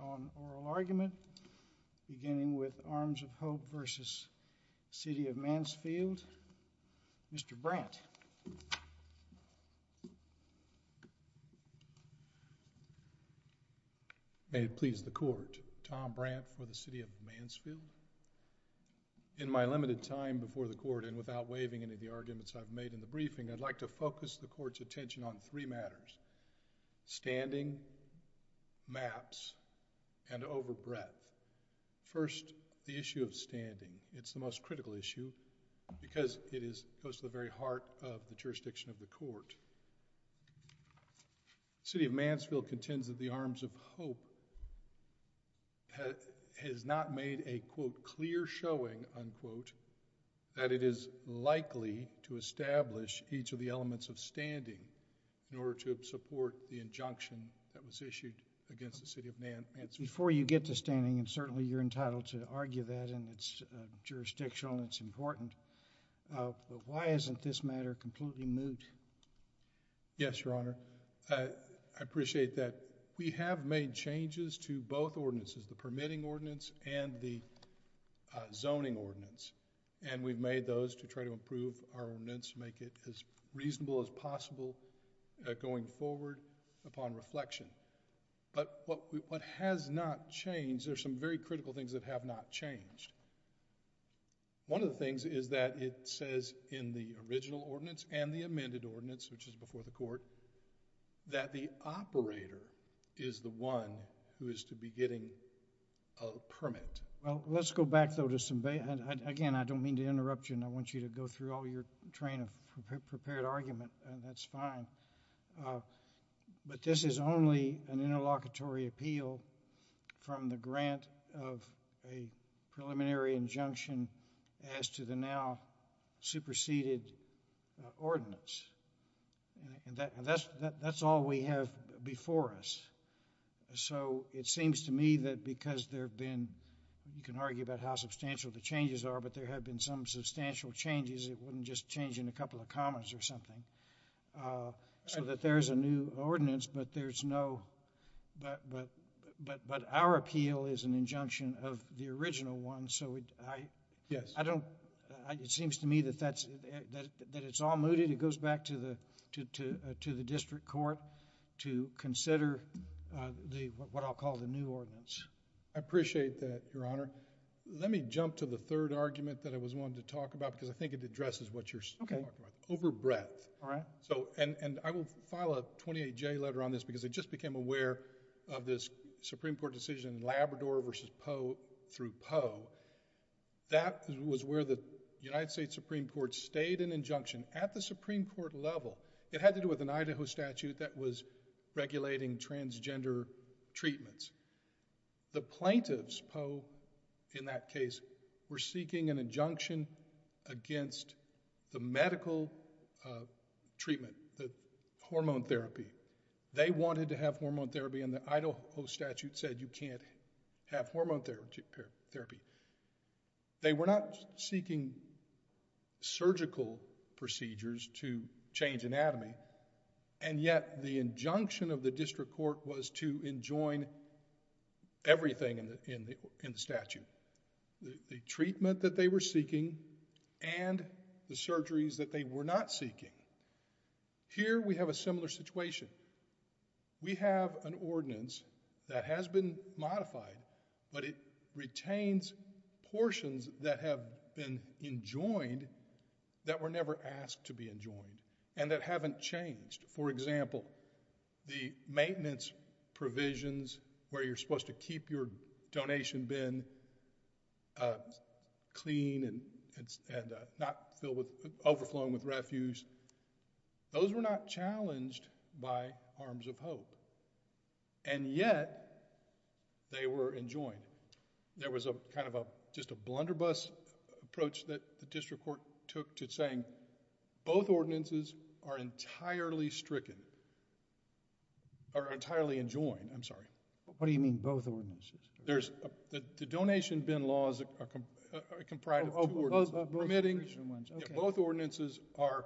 On oral argument, beginning with Arms of Hope v. City of Mansfield, Mr. Brandt. May it please the Court, Tom Brandt for the City of Mansfield. In my limited time before the Court, and without waiving any of the arguments I've made in the briefing, I'd like to focus the Court's attention on three matters. Standing, maps, and overbreadth. First, the issue of standing. It's the most critical issue because it goes to the very heart of the jurisdiction of the Court. The City of Mansfield contends that the Arms of Hope has not made a, quote, clear showing, unquote, that it is likely to establish each of the elements of standing in order to support the injunction that was issued against the City of Mansfield. Before you get to standing, and certainly you're entitled to argue that, and it's jurisdictional and it's important, but why isn't this matter completely moot? Yes, Your Honor. I appreciate that. We have made changes to both ordinances, the permitting ordinance and the zoning ordinance, and we've made those to try to improve our ordinance, make it as reasonable as possible going forward upon reflection. But what has not changed, there's some very critical things that have not changed. One of the things is that it says in the original ordinance and the amended ordinance, which is before the Court, that the operator is the one who is to be getting a permit. Well, let's go back, though, to some—again, I don't mean to interrupt you, and I want you to go through all your train of prepared argument, and that's fine. But this is only an interlocutory appeal from the grant of a preliminary injunction as to the now-superseded ordinance. And that's all we have before us. So it seems to me that because there have been—you can argue about how substantial the changes are, but there have been some substantial changes. It wouldn't just change in a couple of comments or something. So that there's a new ordinance, but there's no—but our appeal is an injunction of the original one. So I don't—it seems to me that it's all mooted. It goes back to the district court to consider what I'll call the new ordinance. I appreciate that, Your Honor. Let me jump to the third argument that I was wanting to talk about because I think it addresses what you're talking about. Okay. Over breadth. All right. So—and I will file a 28-J letter on this because I just became aware of this Supreme Court decision, Labrador v. Poe through Poe. That was where the United States Supreme Court stayed an injunction at the Supreme Court level. It had to do with an Idaho statute that was regulating transgender treatments. The plaintiffs, Poe, in that case, were seeking an injunction against the medical treatment, the hormone therapy. They wanted to have hormone therapy and the Idaho statute said you can't have hormone therapy. They were not seeking surgical procedures to change anatomy, and yet the injunction of the district court was to enjoin everything in the statute. The treatment that they were seeking and the surgeries that they were not seeking. Here we have a similar situation. We have an ordinance that has been modified, but it retains portions that have been enjoined that were never asked to be enjoined and that haven't changed. For example, the maintenance provisions where you're supposed to keep your donation bin clean and not overflowing with refuse. Those were not challenged by arms of hope, and yet they were enjoined. There was a kind of a—just a blunderbuss approach that the district court took to saying both ordinances are entirely stricken or entirely enjoined. I'm sorry. What do you mean both ordinances? There's—the donation bin laws are comprised of two ordinances. Permitting. Both ordinances are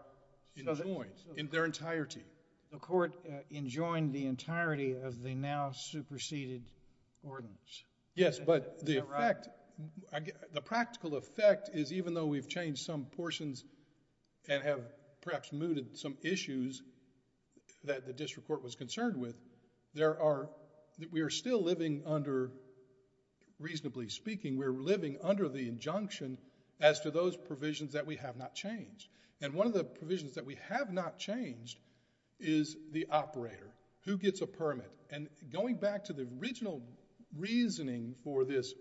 enjoined in their entirety. The court enjoined the entirety of the now superseded ordinance. Yes, but the effect— the practical effect is even though we've changed some portions and have perhaps mooted some issues that the district court was concerned with, there are—we are still living under, reasonably speaking, we're living under the injunction as to those provisions that we have not changed. One of the provisions that we have not changed is the operator. Who gets a permit? And going back to the original reasoning for this—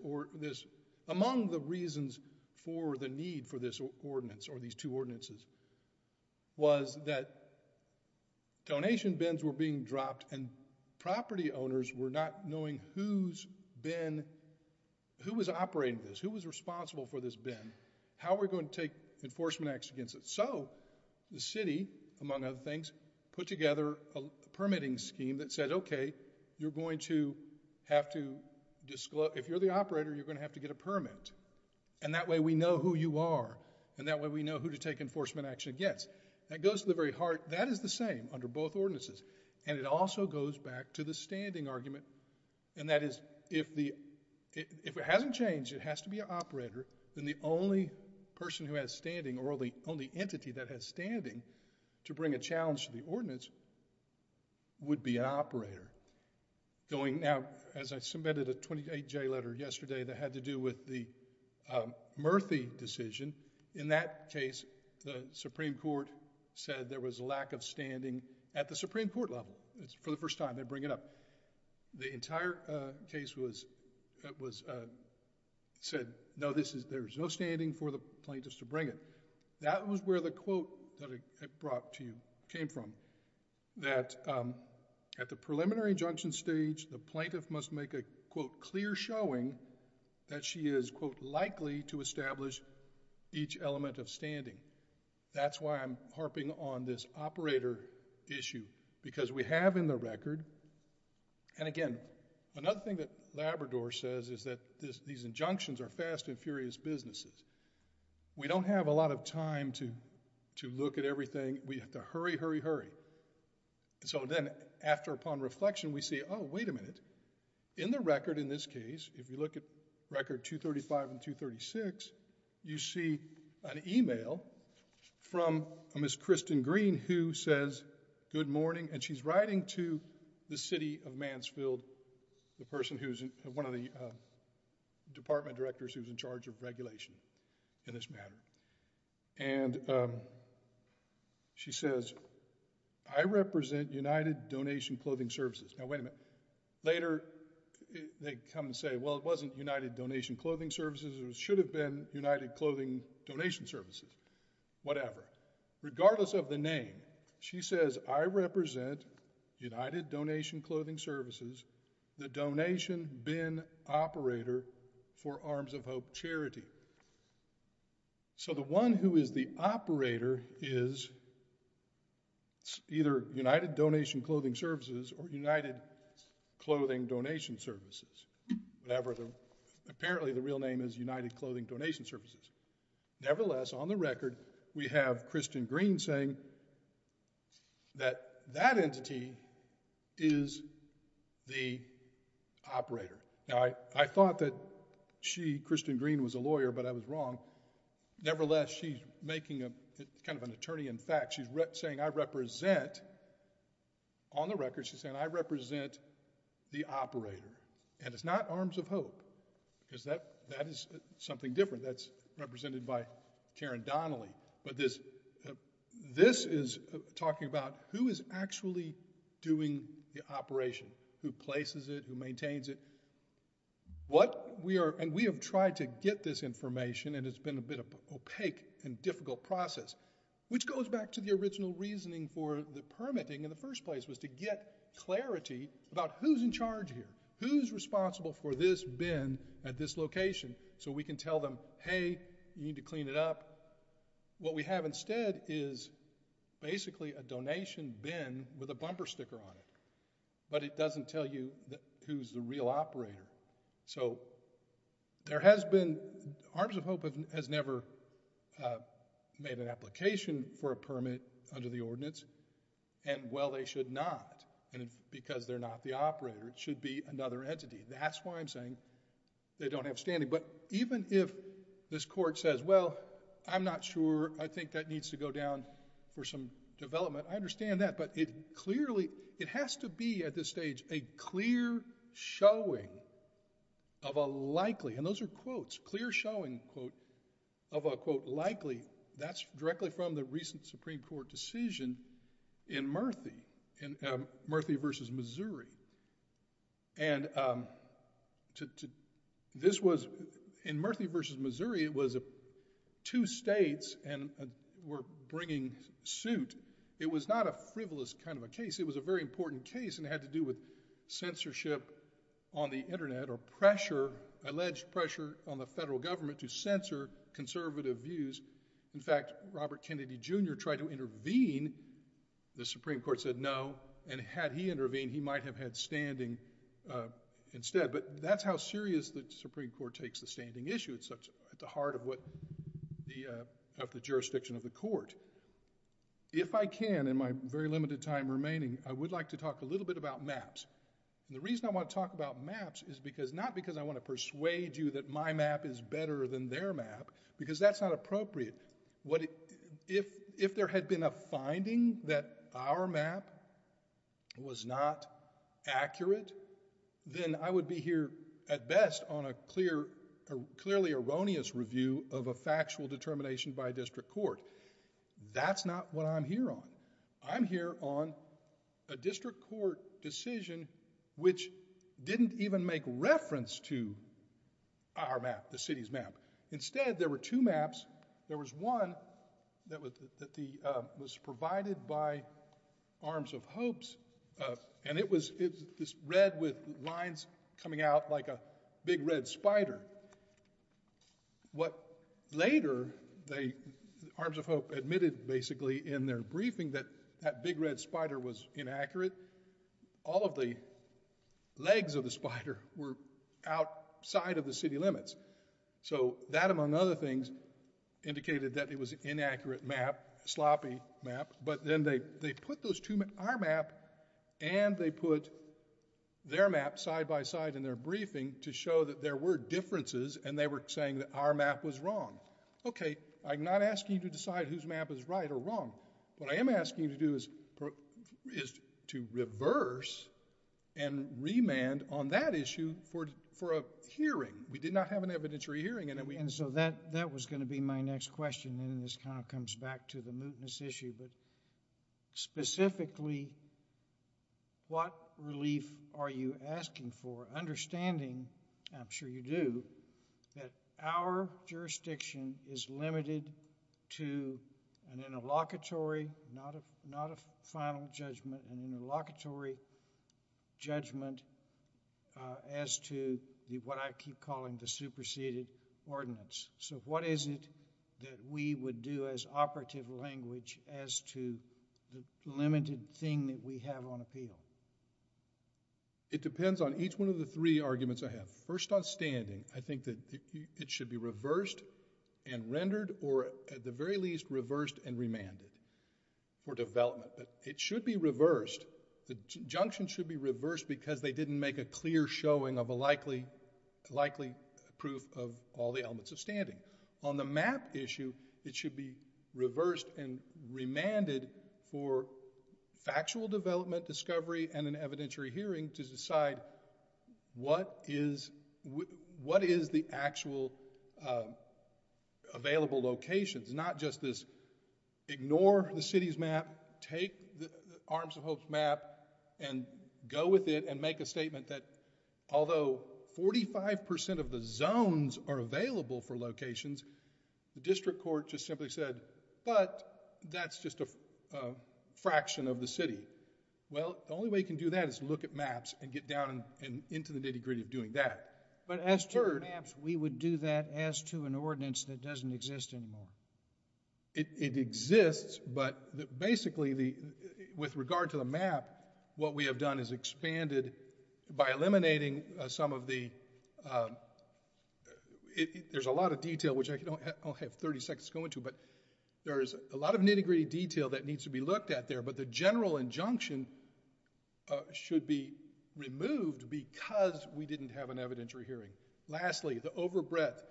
among the reasons for the need for this ordinance or these two ordinances was that donation bins were being dropped and property owners were not knowing who's been— who was operating this, who was responsible for this bin, how we're going to take enforcement acts against it. So the city, among other things, put together a permitting scheme that said, okay, you're going to have to— if you're the operator, you're going to have to get a permit. And that way we know who you are and that way we know who to take enforcement action against. That goes to the very heart. That is the same under both ordinances. And it also goes back to the standing argument, and that is if it hasn't changed, it has to be an operator, then the only person who has standing or the only entity that has standing to bring a challenge to the ordinance would be an operator. Now, as I submitted a 28-J letter yesterday that had to do with the Murthy decision, in that case, the Supreme Court said there was a lack of standing at the Supreme Court level. It's for the first time they bring it up. The entire case was— said, no, there's no standing for the plaintiffs to bring it. That was where the quote that I brought to you came from, that at the preliminary injunction stage, the plaintiff must make a, quote, clear showing that she is, quote, likely to establish each element of standing. That's why I'm harping on this operator issue, because we have in the record— and again, another thing that Labrador says is that these injunctions are fast and furious businesses. We don't have a lot of time to look at everything. We have to hurry, hurry, hurry. So then, after upon reflection, we say, oh, wait a minute, in the record in this case, if you look at record 235 and 236, you see an email from Miss Kristen Green who says, good morning, and she's writing to the city of Mansfield, the person who's—one of the department directors who's in charge of regulation in this matter. And she says, I represent United Donation Clothing Services. Now, wait a minute. Later, they come and say, well, it wasn't United Donation Clothing Services. It should have been United Clothing Donation Services. Whatever. Regardless of the name, she says, I represent United Donation Clothing Services, the donation bin operator for Arms of Hope Charity. So the one who is the operator is either United Donation Clothing Services or United Clothing Donation Services. Whatever. Apparently, the real name is United Clothing Donation Services. Nevertheless, on the record, we have Kristen Green saying that that entity is the operator. Now, I thought that she, Kristen Green, was a lawyer, but I was wrong. Nevertheless, she's making kind of an attorney in fact. She's saying, I represent, on the record, she's saying, I represent the operator. And it's not Arms of Hope, because that is something different. That's represented by Karen Donnelly. But this is talking about who is actually doing the operation, who places it, who maintains it. What we are, and we have tried to get this information, and it's been a bit of opaque and difficult process, which goes back to the original reasoning for the permitting in the first place was to get clarity about who's in charge here. Who's responsible for this bin at this location so we can tell them, hey, you need to clean it up. What we have instead is basically a donation bin with a bumper sticker on it, but it doesn't tell you who's the real operator. So there has been, Arms of Hope has never made an application for a permit under the ordinance, and, well, they should not. And because they're not the operator, it should be another entity. That's why I'm saying they don't have standing. But even if this court says, well, I'm not sure, I think that needs to go down for some development, I understand that, but it clearly, it has to be at this stage a clear showing of a likely, and those are quotes, clear showing, quote, of a, quote, likely, that's directly from the recent Supreme Court decision in Murthy, Murthy v. Missouri. And this was, in Murthy v. Missouri, it was two states were bringing suit. It was not a frivolous kind of a case. It was a very important case, and it had to do with censorship on the Internet or pressure, alleged pressure, on the federal government to censor conservative views. In fact, Robert Kennedy Jr. tried to intervene. The Supreme Court said no, and had he intervened, he might have had standing instead. But that's how serious the Supreme Court takes the standing issue. It's at the heart of the jurisdiction of the court. If I can, in my very limited time remaining, I would like to talk a little bit about maps. And the reason I want to talk about maps is not because I want to persuade you that my map is better than their map, because that's not appropriate. If there had been a finding that our map was not accurate, then I would be here, at best, on a clearly erroneous review of a factual determination by a district court. That's not what I'm here on. I'm here on a district court decision which didn't even make reference to our map, the city's map. Instead, there were two maps. There was one that was provided by Arms of Hope. And it was this red with lines coming out like a big red spider. What later, Arms of Hope admitted, basically, in their briefing, that that big red spider was inaccurate. All of the legs of the spider were outside of the city limits. So that, among other things, indicated that it was an inaccurate map, a sloppy map. But then they put our map, and they put their map side by side in their briefing to show that there were differences, and they were saying that our map was wrong. Okay, I'm not asking you to decide whose map is right or wrong. What I am asking you to do is to reverse and remand on that issue for a hearing. We did not have an evidentiary hearing. And so that was going to be my next question, and this kind of comes back to the mootness issue. But specifically, what relief are you asking for, understanding, and I'm sure you do, that our jurisdiction is limited to an interlocutory, not a final judgment, an interlocutory judgment as to what I keep calling the superseded ordinance? So what is it that we would do as operative language as to the limited thing that we have on appeal? It depends on each one of the three arguments I have. First, on standing, I think that it should be reversed and rendered or, at the very least, reversed and remanded for development. It should be reversed. The junctions should be reversed because they didn't make a clear showing of a likely proof of all the elements of standing. On the map issue, it should be reversed and remanded for factual development, discovery, and an evidentiary hearing to decide what is the actual available locations, not just this ignore the city's map, take the Arms of Hope's map and go with it and make a statement that although 45% of the zones are available for locations, the district court just simply said, but that's just a fraction of the city. Well, the only way you can do that is look at maps and get down into the nitty-gritty of doing that. But as to maps, we would do that as to an ordinance that doesn't exist anymore. It exists, but basically, with regard to the map, what we have done is expanded by eliminating some of the... There's a lot of detail, which I'll have 30 seconds to go into, but there is a lot of nitty-gritty detail that needs to be looked at there, but the general injunction should be removed because we didn't have an evidentiary hearing. Lastly, the overbreath.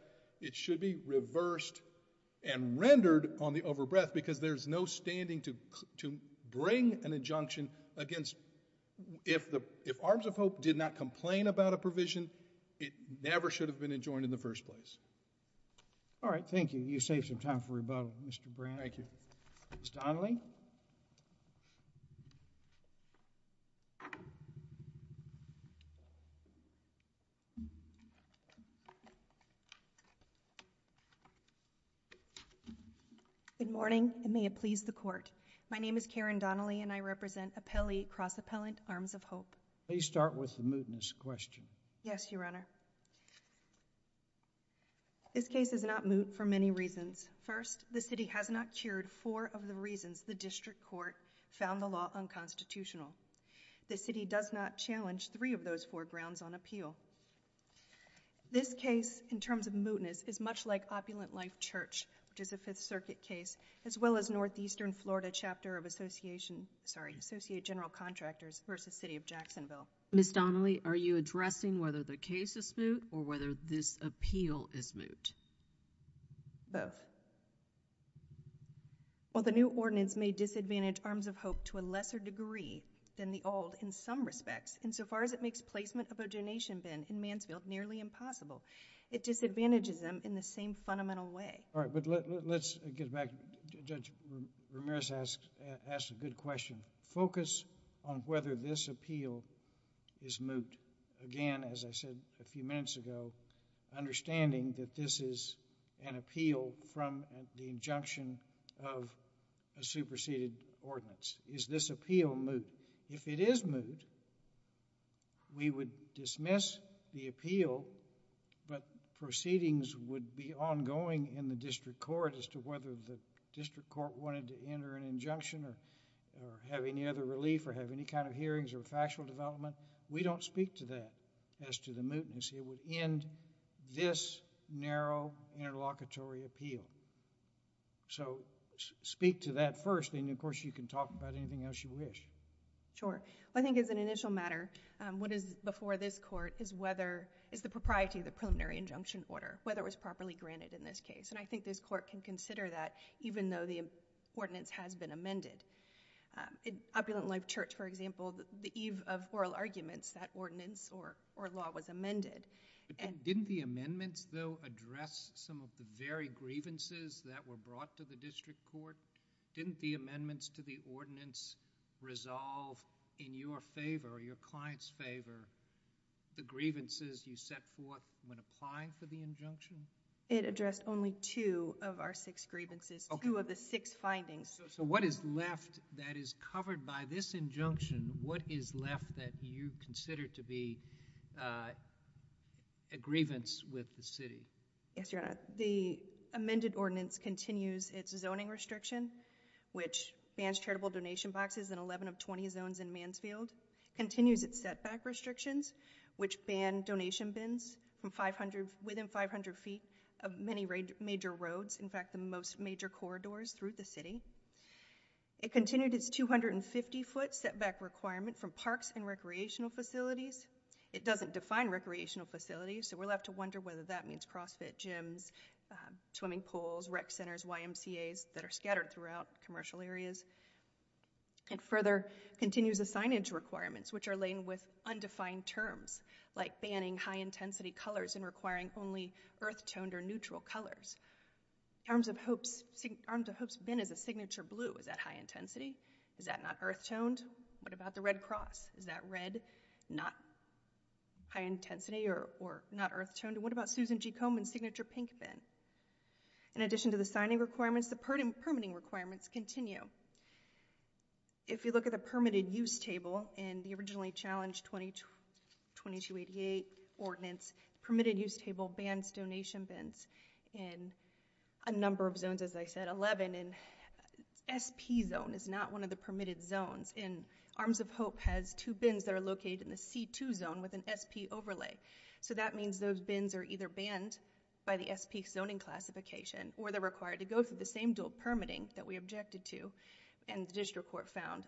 It should be reversed and rendered on the overbreath because there's no standing to bring an injunction against... If Arms of Hope did not complain about a provision, it never should have been enjoined in the first place. All right, thank you. You saved some time for rebuttal, Mr. Brown. Thank you. Ms. Donnelly? Good morning, and may it please the court. My name is Karen Donnelly, and I represent Appelli Cross Appellant, Arms of Hope. Please start with the mootness question. Yes, Your Honor. This case is not moot for many reasons. First, the city has not cured four of the reasons the district court found the law unconstitutional. The city does not challenge three of those four grounds on appeal. This case, in terms of mootness, is much like Opulent Life Church, which is a Fifth Circuit case, as well as Northeastern Florida Chapter of Association... Sorry, Associate General Contractors v. City of Jacksonville. Ms. Donnelly, are you addressing whether the case is moot or whether this appeal is moot? Both. While the new ordinance may disadvantage Arms of Hope to a lesser degree than the old in some respects, insofar as it makes placement of a donation bin in Mansfield nearly impossible, it disadvantages them in the same fundamental way. All right, but let's get back. Judge Ramirez asked a good question. Focus on whether this appeal is moot. Again, as I said a few minutes ago, understanding that this is an appeal from the injunction of a superseded ordinance. Is this appeal moot? If it is moot, we would dismiss the appeal, but proceedings would be ongoing in the district court as to whether the district court wanted to enter an injunction or have any other relief or have any kind of hearings or factual development. We don't speak to that as to the mootness. It would end this narrow interlocutory appeal. So, speak to that first, and, of course, you can talk about anything else you wish. Sure. I think as an initial matter, what is before this court is the propriety of the preliminary injunction order, whether it was properly granted in this case. I think this court can consider that even though the ordinance has been amended. Opulent Life Church, for example, the eve of oral arguments, that ordinance or law was amended. Didn't the amendments, though, address some of the very grievances that were brought to the district court? Didn't the amendments to the ordinance resolve, in your favor or your client's favor, the grievances you set forth when applying for the injunction? It addressed only two of our six grievances, two of the six findings. So what is left that is covered by this injunction? What is left that you consider to be a grievance with the city? Yes, Your Honor. The amended ordinance continues its zoning restriction, which bans charitable donation boxes in 11 of 20 zones in Mansfield, continues its setback restrictions, which ban donation bins within 500 feet of many major roads, in fact, the most major corridors through the city. It continued its 250-foot setback requirement from parks and recreational facilities. It doesn't define recreational facilities, so we'll have to wonder whether that means CrossFit gyms, swimming pools, rec centers, YMCAs that are scattered throughout commercial areas. It further continues the signage requirements, which are laden with undefined terms, like banning high-intensity colors and requiring only earth-toned or neutral colors. Arms of Hope's bin is a signature blue. Is that high-intensity? Is that not earth-toned? What about the Red Cross? Is that red, not high-intensity, or not earth-toned? And what about Susan G. Komen's signature pink bin? In addition to the signing requirements, the permitting requirements continue. If you look at the permitted use table in the originally challenged 2288 ordinance, permitted use table bans donation bins in a number of zones, as I said, 11, and SP zone is not one of the permitted zones, and Arms of Hope has two bins that are located in the C2 zone with an SP overlay. So that means those bins are either banned by the SP zoning classification or they're required to go through the same dual permitting that we objected to and the district court found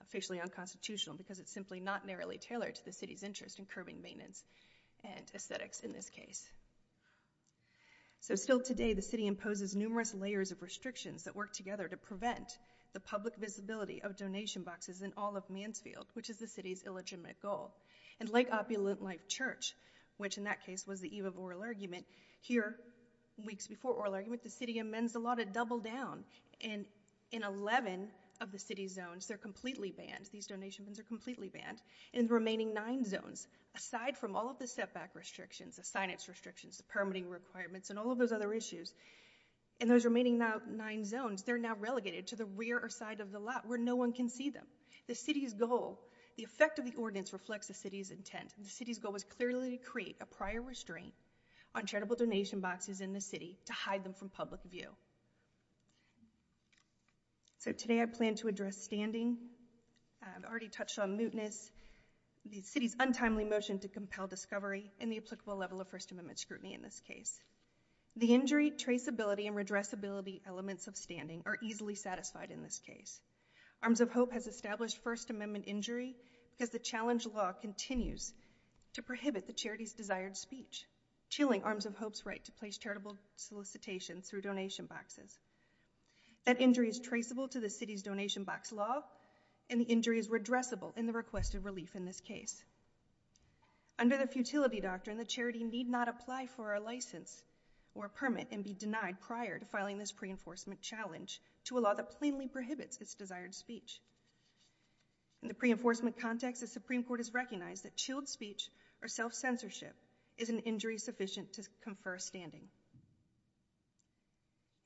officially unconstitutional because it's simply not narrowly tailored to the city's interest in curbing maintenance and aesthetics in this case. So still today, the city imposes numerous layers of restrictions that work together to prevent the public visibility of donation boxes in all of Mansfield, which is the city's illegitimate goal. And Lake Opulent Life Church, which in that case was the eve of oral argument, here, weeks before oral argument, the city amends the law to double down and in 11 of the city's zones, they're completely banned. These donation bins are completely banned. In the remaining nine zones, aside from all of the setback restrictions, the signage restrictions, the permitting requirements, and all of those other issues, in those remaining nine zones, they're now relegated to the rear or side of the lot where no one can see them. The city's goal, the effect of the ordinance reflects the city's intent. The city's goal was clearly to create a prior restraint on charitable donation boxes in the city to hide them from public view. So today I plan to address standing. I've already touched on mootness, the city's untimely motion to compel discovery, and the applicable level of First Amendment scrutiny in this case. The injury, traceability, and redressability elements of standing are easily satisfied in this case. Arms of Hope has established First Amendment injury because the challenge law continues to prohibit the charity's desired speech, chilling Arms of Hope's right to place charitable solicitation through donation boxes. That injury is traceable to the city's donation box law, and the injury is redressable in the request of relief in this case. Under the futility doctrine, the charity need not apply for a license or a permit and be denied prior to filing this pre-enforcement challenge to a law that plainly prohibits its desired speech. In the pre-enforcement context, the Supreme Court has recognized that chilled speech or self-censorship is an injury sufficient to confer standing.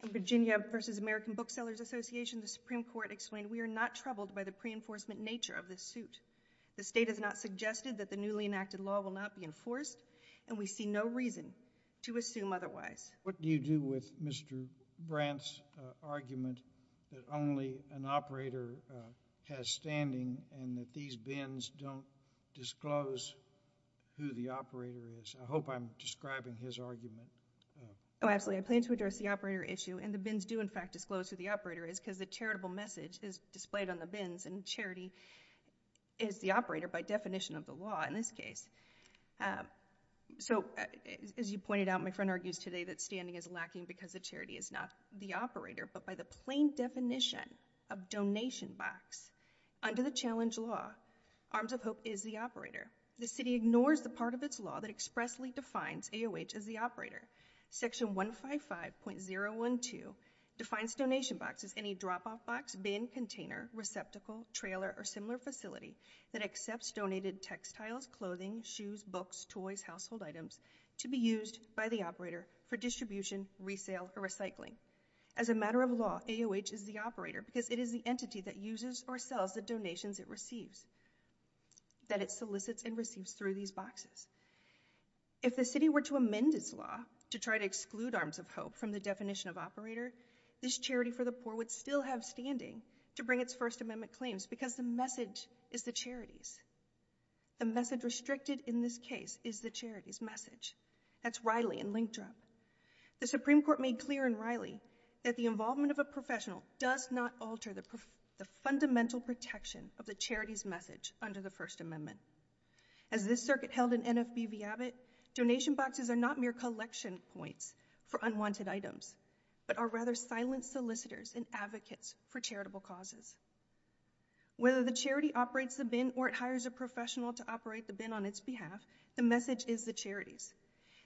In Virginia v. American Booksellers Association, the Supreme Court explained, we are not troubled by the pre-enforcement nature of this suit. The state has not suggested that the newly enacted law will not be enforced, and we see no reason to assume otherwise. What do you do with Mr. Brandt's argument that only an operator has standing and that these bins don't disclose who the operator is? I hope I'm describing his argument. Oh, absolutely. I plan to address the operator issue, and the bins do, in fact, disclose who the operator is because the charitable message is displayed on the bins, and charity is the operator by definition of the law in this case. So as you pointed out, my friend argues today that standing is lacking because the charity is not the operator, but by the plain definition of donation box. Under the challenge law, Arms of Hope is the operator. The city ignores the part of its law that expressly defines AOH as the operator. Section 155.012 defines donation box as any drop-off box, bin, container, receptacle, trailer, or similar facility that accepts donated textiles, clothing, shoes, books, toys, household items to be used by the operator for distribution, resale, or recycling. As a matter of law, AOH is the operator because it is the entity that uses or sells the donations it receives, that it solicits and receives through these boxes. If the city were to amend its law to try to exclude Arms of Hope from the definition of operator, this charity for the poor would still have standing to bring its First Amendment claims because the message is the charity's. The message restricted in this case is the charity's message. That's Riley and Linkdrop. The Supreme Court made clear in Riley that the involvement of a professional does not alter the fundamental protection of the charity's message under the First Amendment. As this circuit held in NFB-Viabit, donation boxes are not mere collection points for unwanted items, but are rather silent solicitors and advocates for charitable causes. Whether the charity operates the bin or it hires a professional to operate the bin on its behalf, the message is the charity's.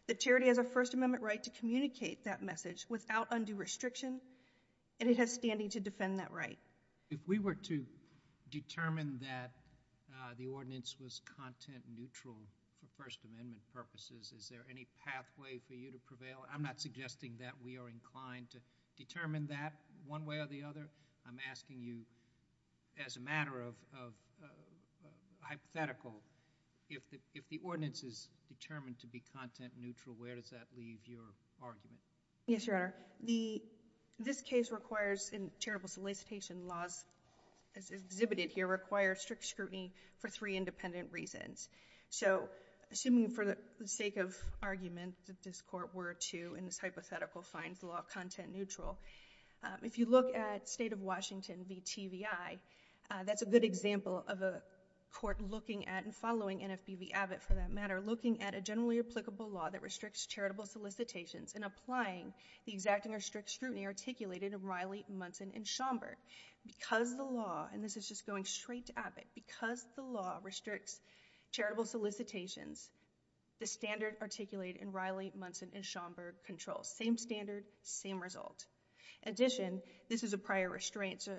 The charity has a First Amendment right to communicate that message without undue restriction, and it has standing to defend that right. If we were to determine that the ordinance was content-neutral for First Amendment purposes, is there any pathway for you to prevail? I'm not suggesting that we are inclined to determine that one way or the other. I'm asking you, as a matter of hypothetical, if the ordinance is determined to be content-neutral, where does that leave your argument? Yes, Your Honor. This case requires, in charitable solicitation laws as exhibited here, requires strict scrutiny for three independent reasons. So, assuming for the sake of argument that this court were to, in this hypothetical, find the law content-neutral, if you look at State of Washington v. TVI, that's a good example of a court looking at and following NFB v. Abbott, for that matter, looking at a generally applicable law that restricts charitable solicitations and applying the exacting or strict scrutiny articulated in Riley, Munson, and Schomburg. Because the law, and this is just going straight to Abbott, because the law restricts charitable solicitations, the standard articulated in Riley, Munson, and Schomburg controls. Same standard, same result. In addition, this is a prior restraint. It's a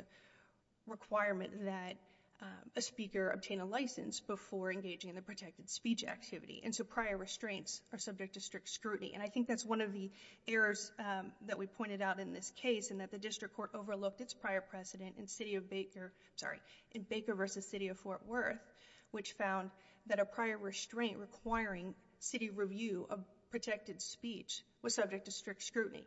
requirement that a speaker obtain a license before engaging in the protected speech activity. And so prior restraints are subject to strict scrutiny. And I think that's one of the errors that we pointed out in this case in that the district court overlooked its prior precedent in Baker v. City of Fort Worth, which found that a prior restraint requiring city review of protected speech was subject to strict scrutiny.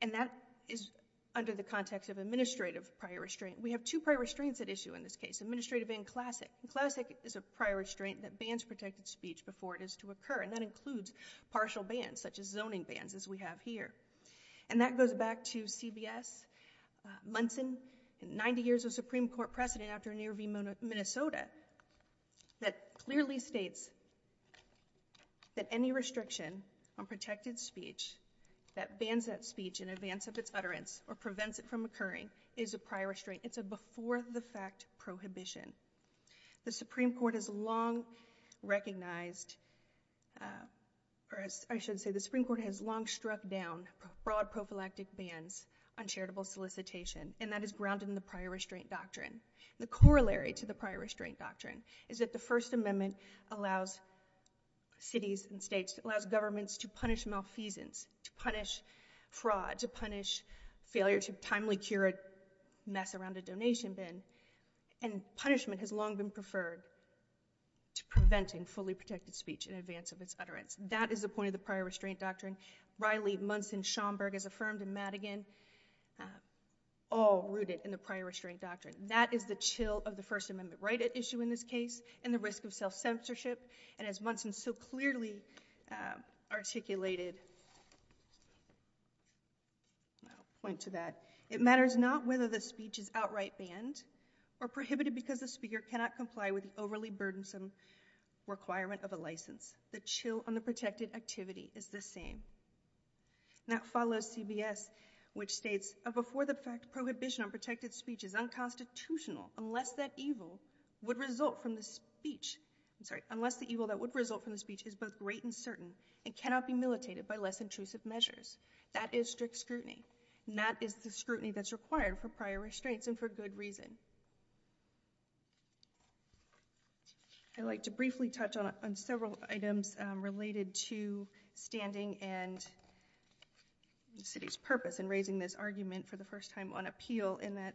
And that is under the context of administrative prior restraint. We have two prior restraints at issue in this case, administrative and classic. And classic is a prior restraint that bans protected speech before it is to occur, and that includes partial bans, such as zoning bans, as we have here. And that goes back to CBS, Munson, 90 years of Supreme Court precedent after near v. Minnesota, that clearly states that any restriction on protected speech that bans that speech in advance of its utterance or prevents it from occurring is a prior restraint. It's a before-the-fact prohibition. The Supreme Court has long recognized, or I should say the Supreme Court has long struck down broad prophylactic bans on charitable solicitation, and that is grounded in the prior restraint doctrine. The corollary to the prior restraint doctrine is that the First Amendment allows cities and states, allows governments to punish malfeasance, to punish fraud, to punish failure to timely cure a mess around a donation bin. And punishment has long been preferred to preventing fully protected speech in advance of its utterance. That is the point of the prior restraint doctrine. Riley, Munson, Schomburg, as affirmed in Madigan, all rooted in the prior restraint doctrine. That is the chill of the First Amendment right at issue in this case and the risk of self-censorship. And as Munson so clearly articulated, I'll point to that, it matters not whether the speech is outright banned or prohibited because the speaker cannot comply with the overly burdensome requirement of a license. The chill on the protected activity is the same. And that follows CBS, which states, a before-the-fact prohibition on protected speech is unconstitutional unless the evil that would result from the speech is both great and certain and cannot be militated by less intrusive measures. That is strict scrutiny. And that is the scrutiny that's required for prior restraints and for good reason. I'd like to briefly touch on several items related to standing and the city's purpose in raising this argument for the first time on appeal in that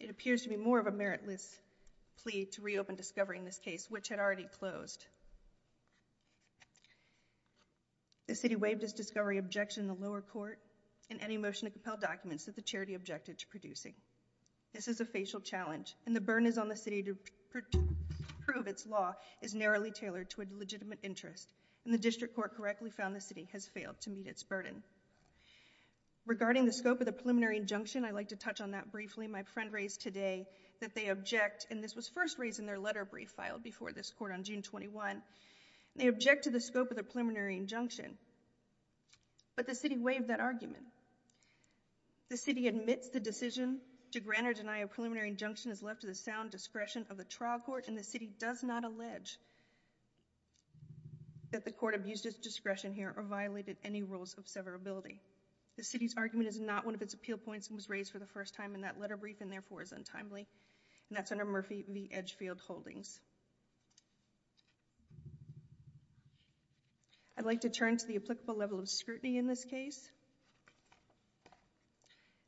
it appears to be more of a meritless plea to reopen discovery in this case, which had already closed. The city waived its discovery objection in the lower court in any motion to compel documents that the charity objected to producing. This is a facial challenge, and the burden is on the city to prove its law is narrowly tailored to a legitimate interest. And the district court correctly found the city has failed to meet its burden. Regarding the scope of the preliminary injunction, I'd like to touch on that briefly. My friend raised today that they object, and this was first raised in their letter brief filed before this court on June 21. They object to the scope of the preliminary injunction. But the city waived that argument. The city admits the decision to grant or deny a preliminary injunction is left to the sound discretion of the trial court, and the city does not allege that the court abused its discretion here or violated any rules of severability. The city's argument is not one of its appeal points and was raised for the first time in that letter brief and therefore is untimely, and that's under Murphy v. Edgefield Holdings. I'd like to turn to the applicable level of scrutiny in this case.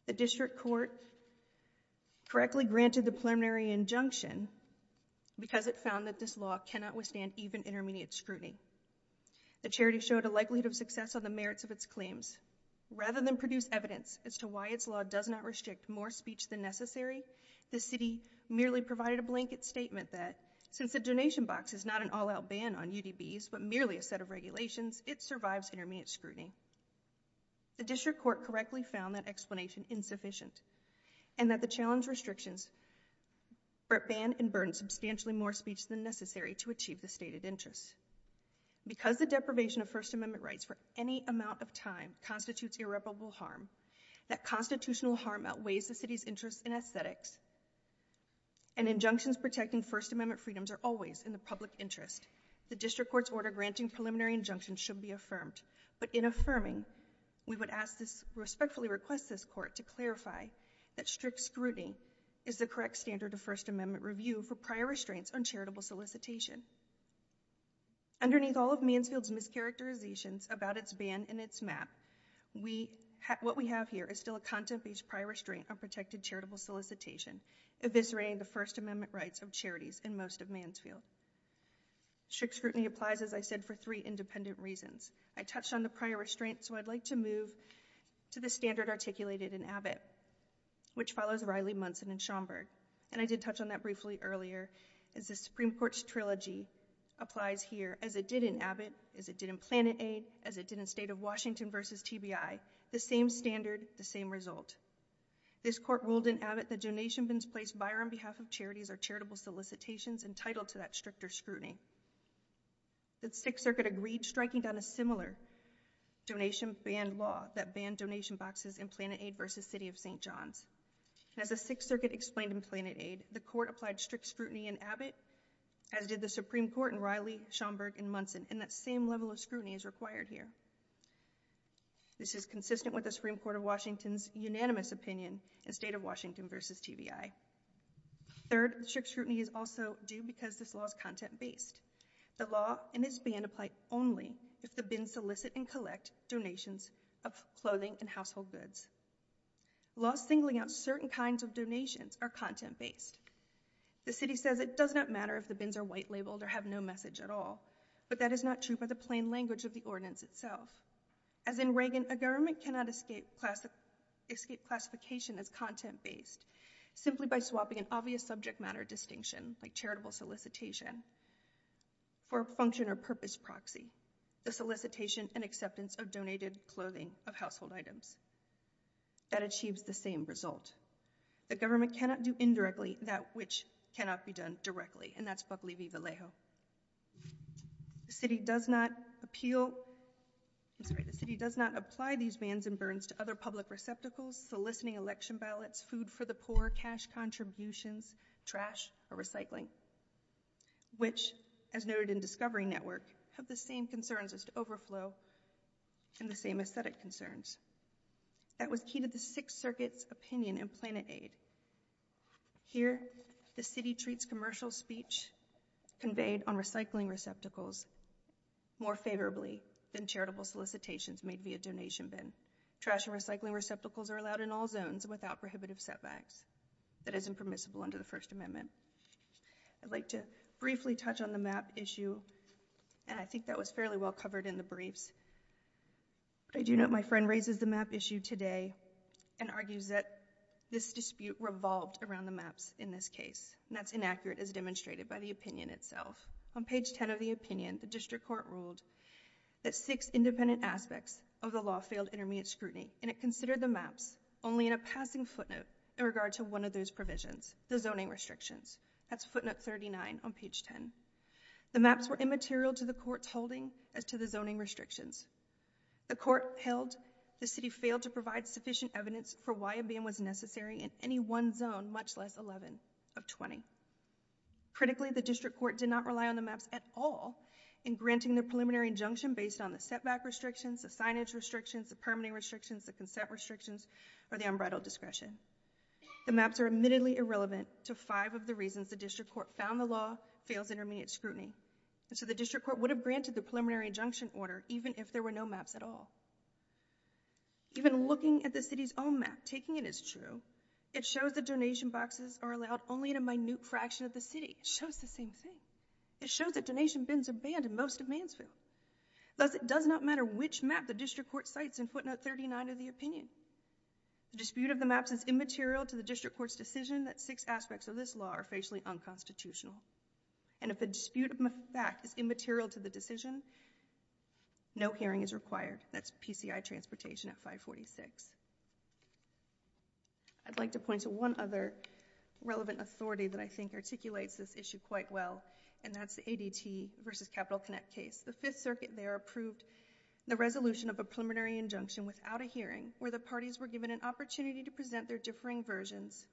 The district court correctly granted the preliminary injunction because it found that this law cannot withstand even intermediate scrutiny. The charity showed a likelihood of success on the merits of its claims. Rather than produce evidence as to why its law does not restrict more speech than necessary, the city merely provided a blanket statement that, since the donation box is not an all-out ban on UDBs but merely a set of regulations, it survives intermediate scrutiny. The district court correctly found that explanation insufficient and that the challenge restrictions ban and burden substantially more speech than necessary to achieve the stated interests. Because the deprivation of First Amendment rights for any amount of time constitutes irreparable harm, that constitutional harm outweighs the city's interest in aesthetics, and injunctions protecting First Amendment freedoms are always in the public interest, the district court's order granting preliminary injunctions should be affirmed. But in affirming, we would respectfully request this court to clarify that strict scrutiny is the correct standard of First Amendment review for prior restraints on charitable solicitation. Underneath all of Mansfield's mischaracterizations about its ban and its map, what we have here is still a content-based prior restraint on protected charitable solicitation, eviscerating the First Amendment rights of charities in most of Mansfield. Strict scrutiny applies, as I said, for three independent reasons. I touched on the prior restraint, so I'd like to move to the standard articulated in Abbott, which follows Riley-Munson and Schomburg, and I did touch on that briefly earlier, as the Supreme Court's trilogy applies here, as it did in Abbott, as it did in PlanetAid, as it did in State of Washington v. TBI. The same standard, the same result. This court ruled in Abbott that donation bins placed by or on behalf of charities are charitable solicitations entitled to that stricter scrutiny. The Sixth Circuit agreed, striking down a similar donation ban law that banned donation boxes in PlanetAid v. City of St. John's. As the Sixth Circuit explained in PlanetAid, the court applied strict scrutiny in Abbott, as did the Supreme Court in Riley-Schomburg and Munson, and that same level of scrutiny is required here. This is consistent with the Supreme Court of Washington's unanimous opinion in State of Washington v. TBI. Third, strict scrutiny is also due because this law is content-based. The law and its ban apply only if the bins solicit and collect donations of clothing and household goods. Laws singling out certain kinds of donations are content-based. The city says it does not matter if the bins are white-labeled or have no message at all, but that is not true by the plain language of the ordinance itself. As in Reagan, a government cannot escape classification as content-based simply by swapping an obvious subject matter distinction, like charitable solicitation, for a function or purpose proxy, the solicitation and acceptance of donated clothing of household items. That achieves the same result. The government cannot do indirectly that which cannot be done directly, and that's Buckley v. Vallejo. The city does not apply these bans and burns to other public receptacles, soliciting election ballots, food for the poor, cash contributions, trash, or recycling, which, as noted in Discovery Network, have the same concerns as to overflow and the same aesthetic concerns. That was key to the Sixth Circuit's opinion in Planet Aid. Here, the city treats commercial speech conveyed on recycling receptacles more favorably than charitable solicitations made via donation bin. Trash and recycling receptacles are allowed in all zones without prohibitive setbacks. That isn't permissible under the First Amendment. I'd like to briefly touch on the map issue, and I think that was fairly well covered in the briefs. I do note my friend raises the map issue today and argues that this dispute revolved around the maps in this case, and that's inaccurate as demonstrated by the opinion itself. On page 10 of the opinion, the district court ruled that six independent aspects of the law failed intermediate scrutiny, and it considered the maps only in a passing footnote in regard to one of those provisions, the zoning restrictions. That's footnote 39 on page 10. The maps were immaterial to the court's holding as to the zoning restrictions. The court held the city failed to provide sufficient evidence for why a ban was necessary in any one zone, much less 11 of 20. Critically, the district court did not rely on the maps at all in granting the preliminary injunction based on the setback restrictions, the signage restrictions, the permitting restrictions, the consent restrictions, or the unbridled discretion. The maps are admittedly irrelevant to five of the reasons the district court found the law fails intermediate scrutiny. So the district court would have granted the preliminary injunction order even if there were no maps at all. Even looking at the city's own map, taking it as true, it shows that donation boxes are allowed only in a minute fraction of the city. It shows the same thing. It shows that donation bins are banned in most of Mansfield. Thus, it does not matter which map the district court cites in footnote 39 of the opinion. The dispute of the maps is immaterial to the district court's decision that six aspects of this law are facially unconstitutional. And if a dispute of fact is immaterial to the decision, no hearing is required. That's PCI transportation at 546. I'd like to point to one other relevant authority that I think articulates this issue quite well, and that's the ADT versus Capital Connect case. The Fifth Circuit there approved the resolution of a preliminary injunction without a hearing where the parties were given an opportunity to present their differing versions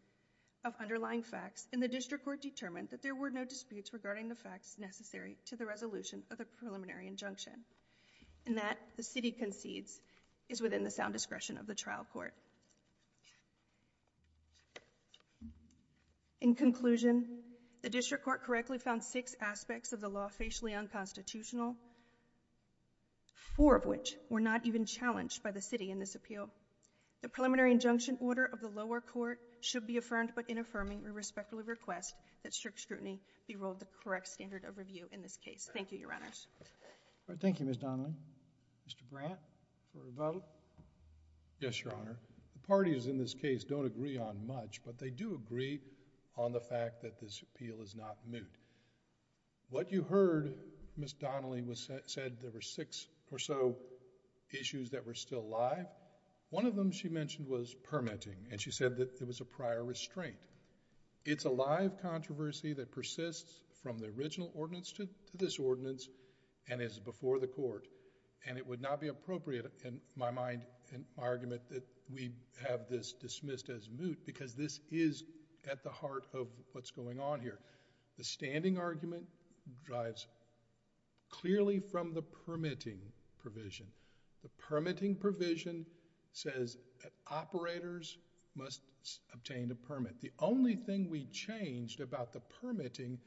of underlying facts, and the district court determined that there were no disputes regarding the facts necessary to the resolution of the preliminary injunction. And that, the city concedes, is within the sound discretion of the trial court. In conclusion, the district court correctly found six aspects of the law facially unconstitutional, four of which were not even challenged by the city in this appeal. The preliminary injunction order of the lower court should be affirmed, but in affirming we respectfully request that strict scrutiny be ruled the correct standard of review in this case. Thank you, Your Honors. Thank you, Ms. Donnelly. Mr. Brandt, for a vote? Yes, Your Honor. The parties in this case don't agree on much, but they do agree on the fact that this appeal is not moot. What you heard Ms. Donnelly said there were six or so issues that were still alive. One of them she mentioned was permitting, and she said that there was a prior restraint. It's a live controversy that persists from the original ordinance to this ordinance, and is before the court, and it would not be appropriate in my mind, in my argument, that we have this dismissed as moot, because this is at the heart of what's going on here. The standing argument drives clearly from the permitting provision. The permitting provision says that operators must obtain a permit. The only thing we changed about the permitting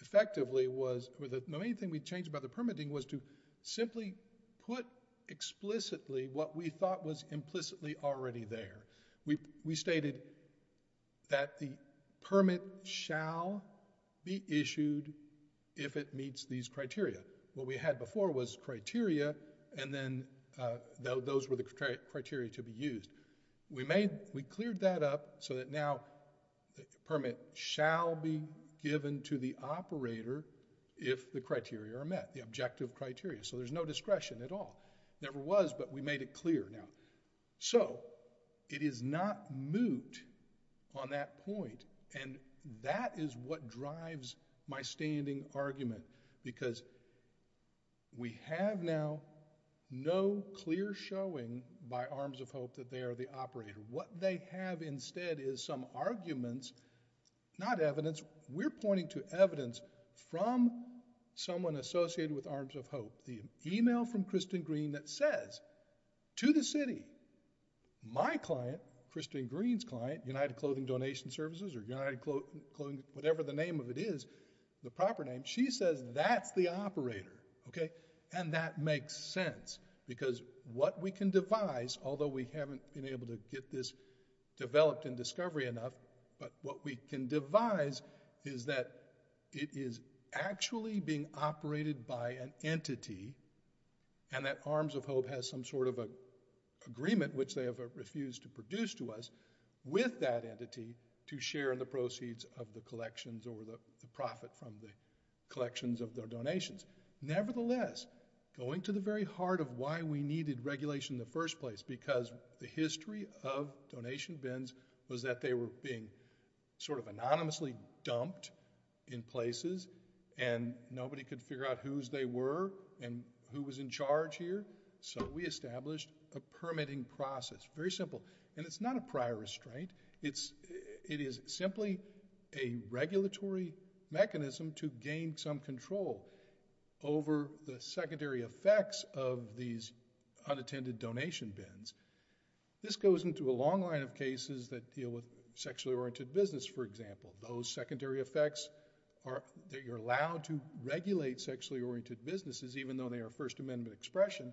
effectively was... The main thing we changed about the permitting was to simply put explicitly what we thought was implicitly already there. We stated that the permit shall be issued if it meets these criteria. What we had before was criteria, and then those were the criteria to be used. We cleared that up so that now the permit shall be given to the operator if the criteria are met, the objective criteria, so there's no discretion at all. There was, but we made it clear. So it is not moot on that point, and that is what drives my standing argument, because we have now no clear showing by Arms of Hope that they are the operator. What they have instead is some arguments, not evidence. We're pointing to evidence from someone associated with Arms of Hope, the email from Kristen Green that says to the city, my client, Kristen Green's client, United Clothing Donation Services, or United Clothing, whatever the name of it is, the proper name, she says that's the operator, okay, and that makes sense, because what we can devise, although we haven't been able to get this developed in discovery enough, but what we can devise is that it is actually being operated by an entity, and that Arms of Hope has some sort of an agreement which they have refused to produce to us with that entity to share in the proceeds of the collections or the profit from the collections of their donations. Nevertheless, going to the very heart of why we needed regulation in the first place, because the history of donation bins was that they were being sort of anonymously dumped in places, and nobody could figure out whose they were and who was in charge here, so we established a permitting process, very simple. And it's not a prior restraint. It is simply a regulatory mechanism to gain some control over the secondary effects of these unattended donation bins. This goes into a long line of cases that deal with sexually oriented business, for example. Those secondary effects are that you're allowed to regulate sexually oriented businesses, even though they are First Amendment expression,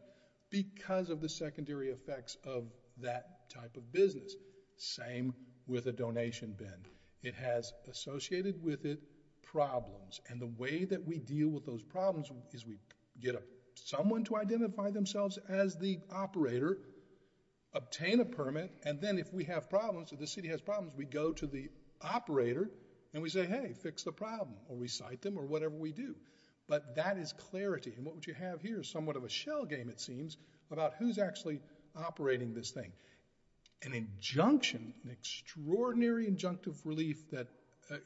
because of the secondary effects of that type of business. Same with a donation bin. It has associated with it problems, and the way that we deal with those problems is we get someone to identify themselves as the operator, obtain a permit, and then if we have problems, if the city has problems, we go to the operator, and we say, hey, fix the problem, or recite them, or whatever we do. But that is clarity, and what you have here is somewhat of a shell game, it seems, about who's actually operating this thing. An injunction, an extraordinary injunctive relief that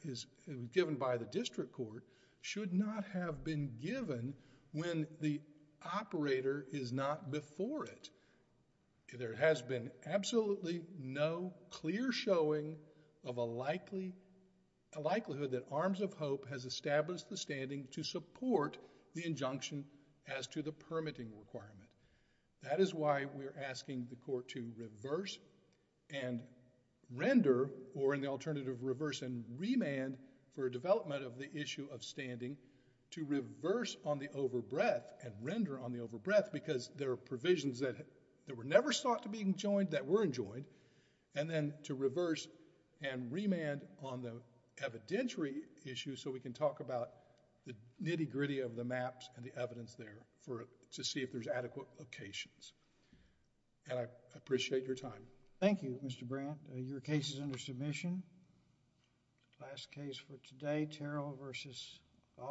is given by the district court should not have been given when the operator is not before it. There has been absolutely no clear showing of a likelihood that Arms of Hope has established the standing to support the injunction as to the permitting requirement. That is why we're asking the court to reverse and render, or in the alternative, reverse and remand for development of the issue of standing to reverse on the overbreath and render on the overbreath because there are provisions that were never sought to be enjoined that were enjoined, and then to reverse and remand on the evidentiary issue so we can talk about the nitty-gritty of the maps and the evidence there to see if there's adequate locations. And I appreciate your time. Thank you, Mr. Brandt. Your case is under submission. Last case for today, Terrell v. Ball.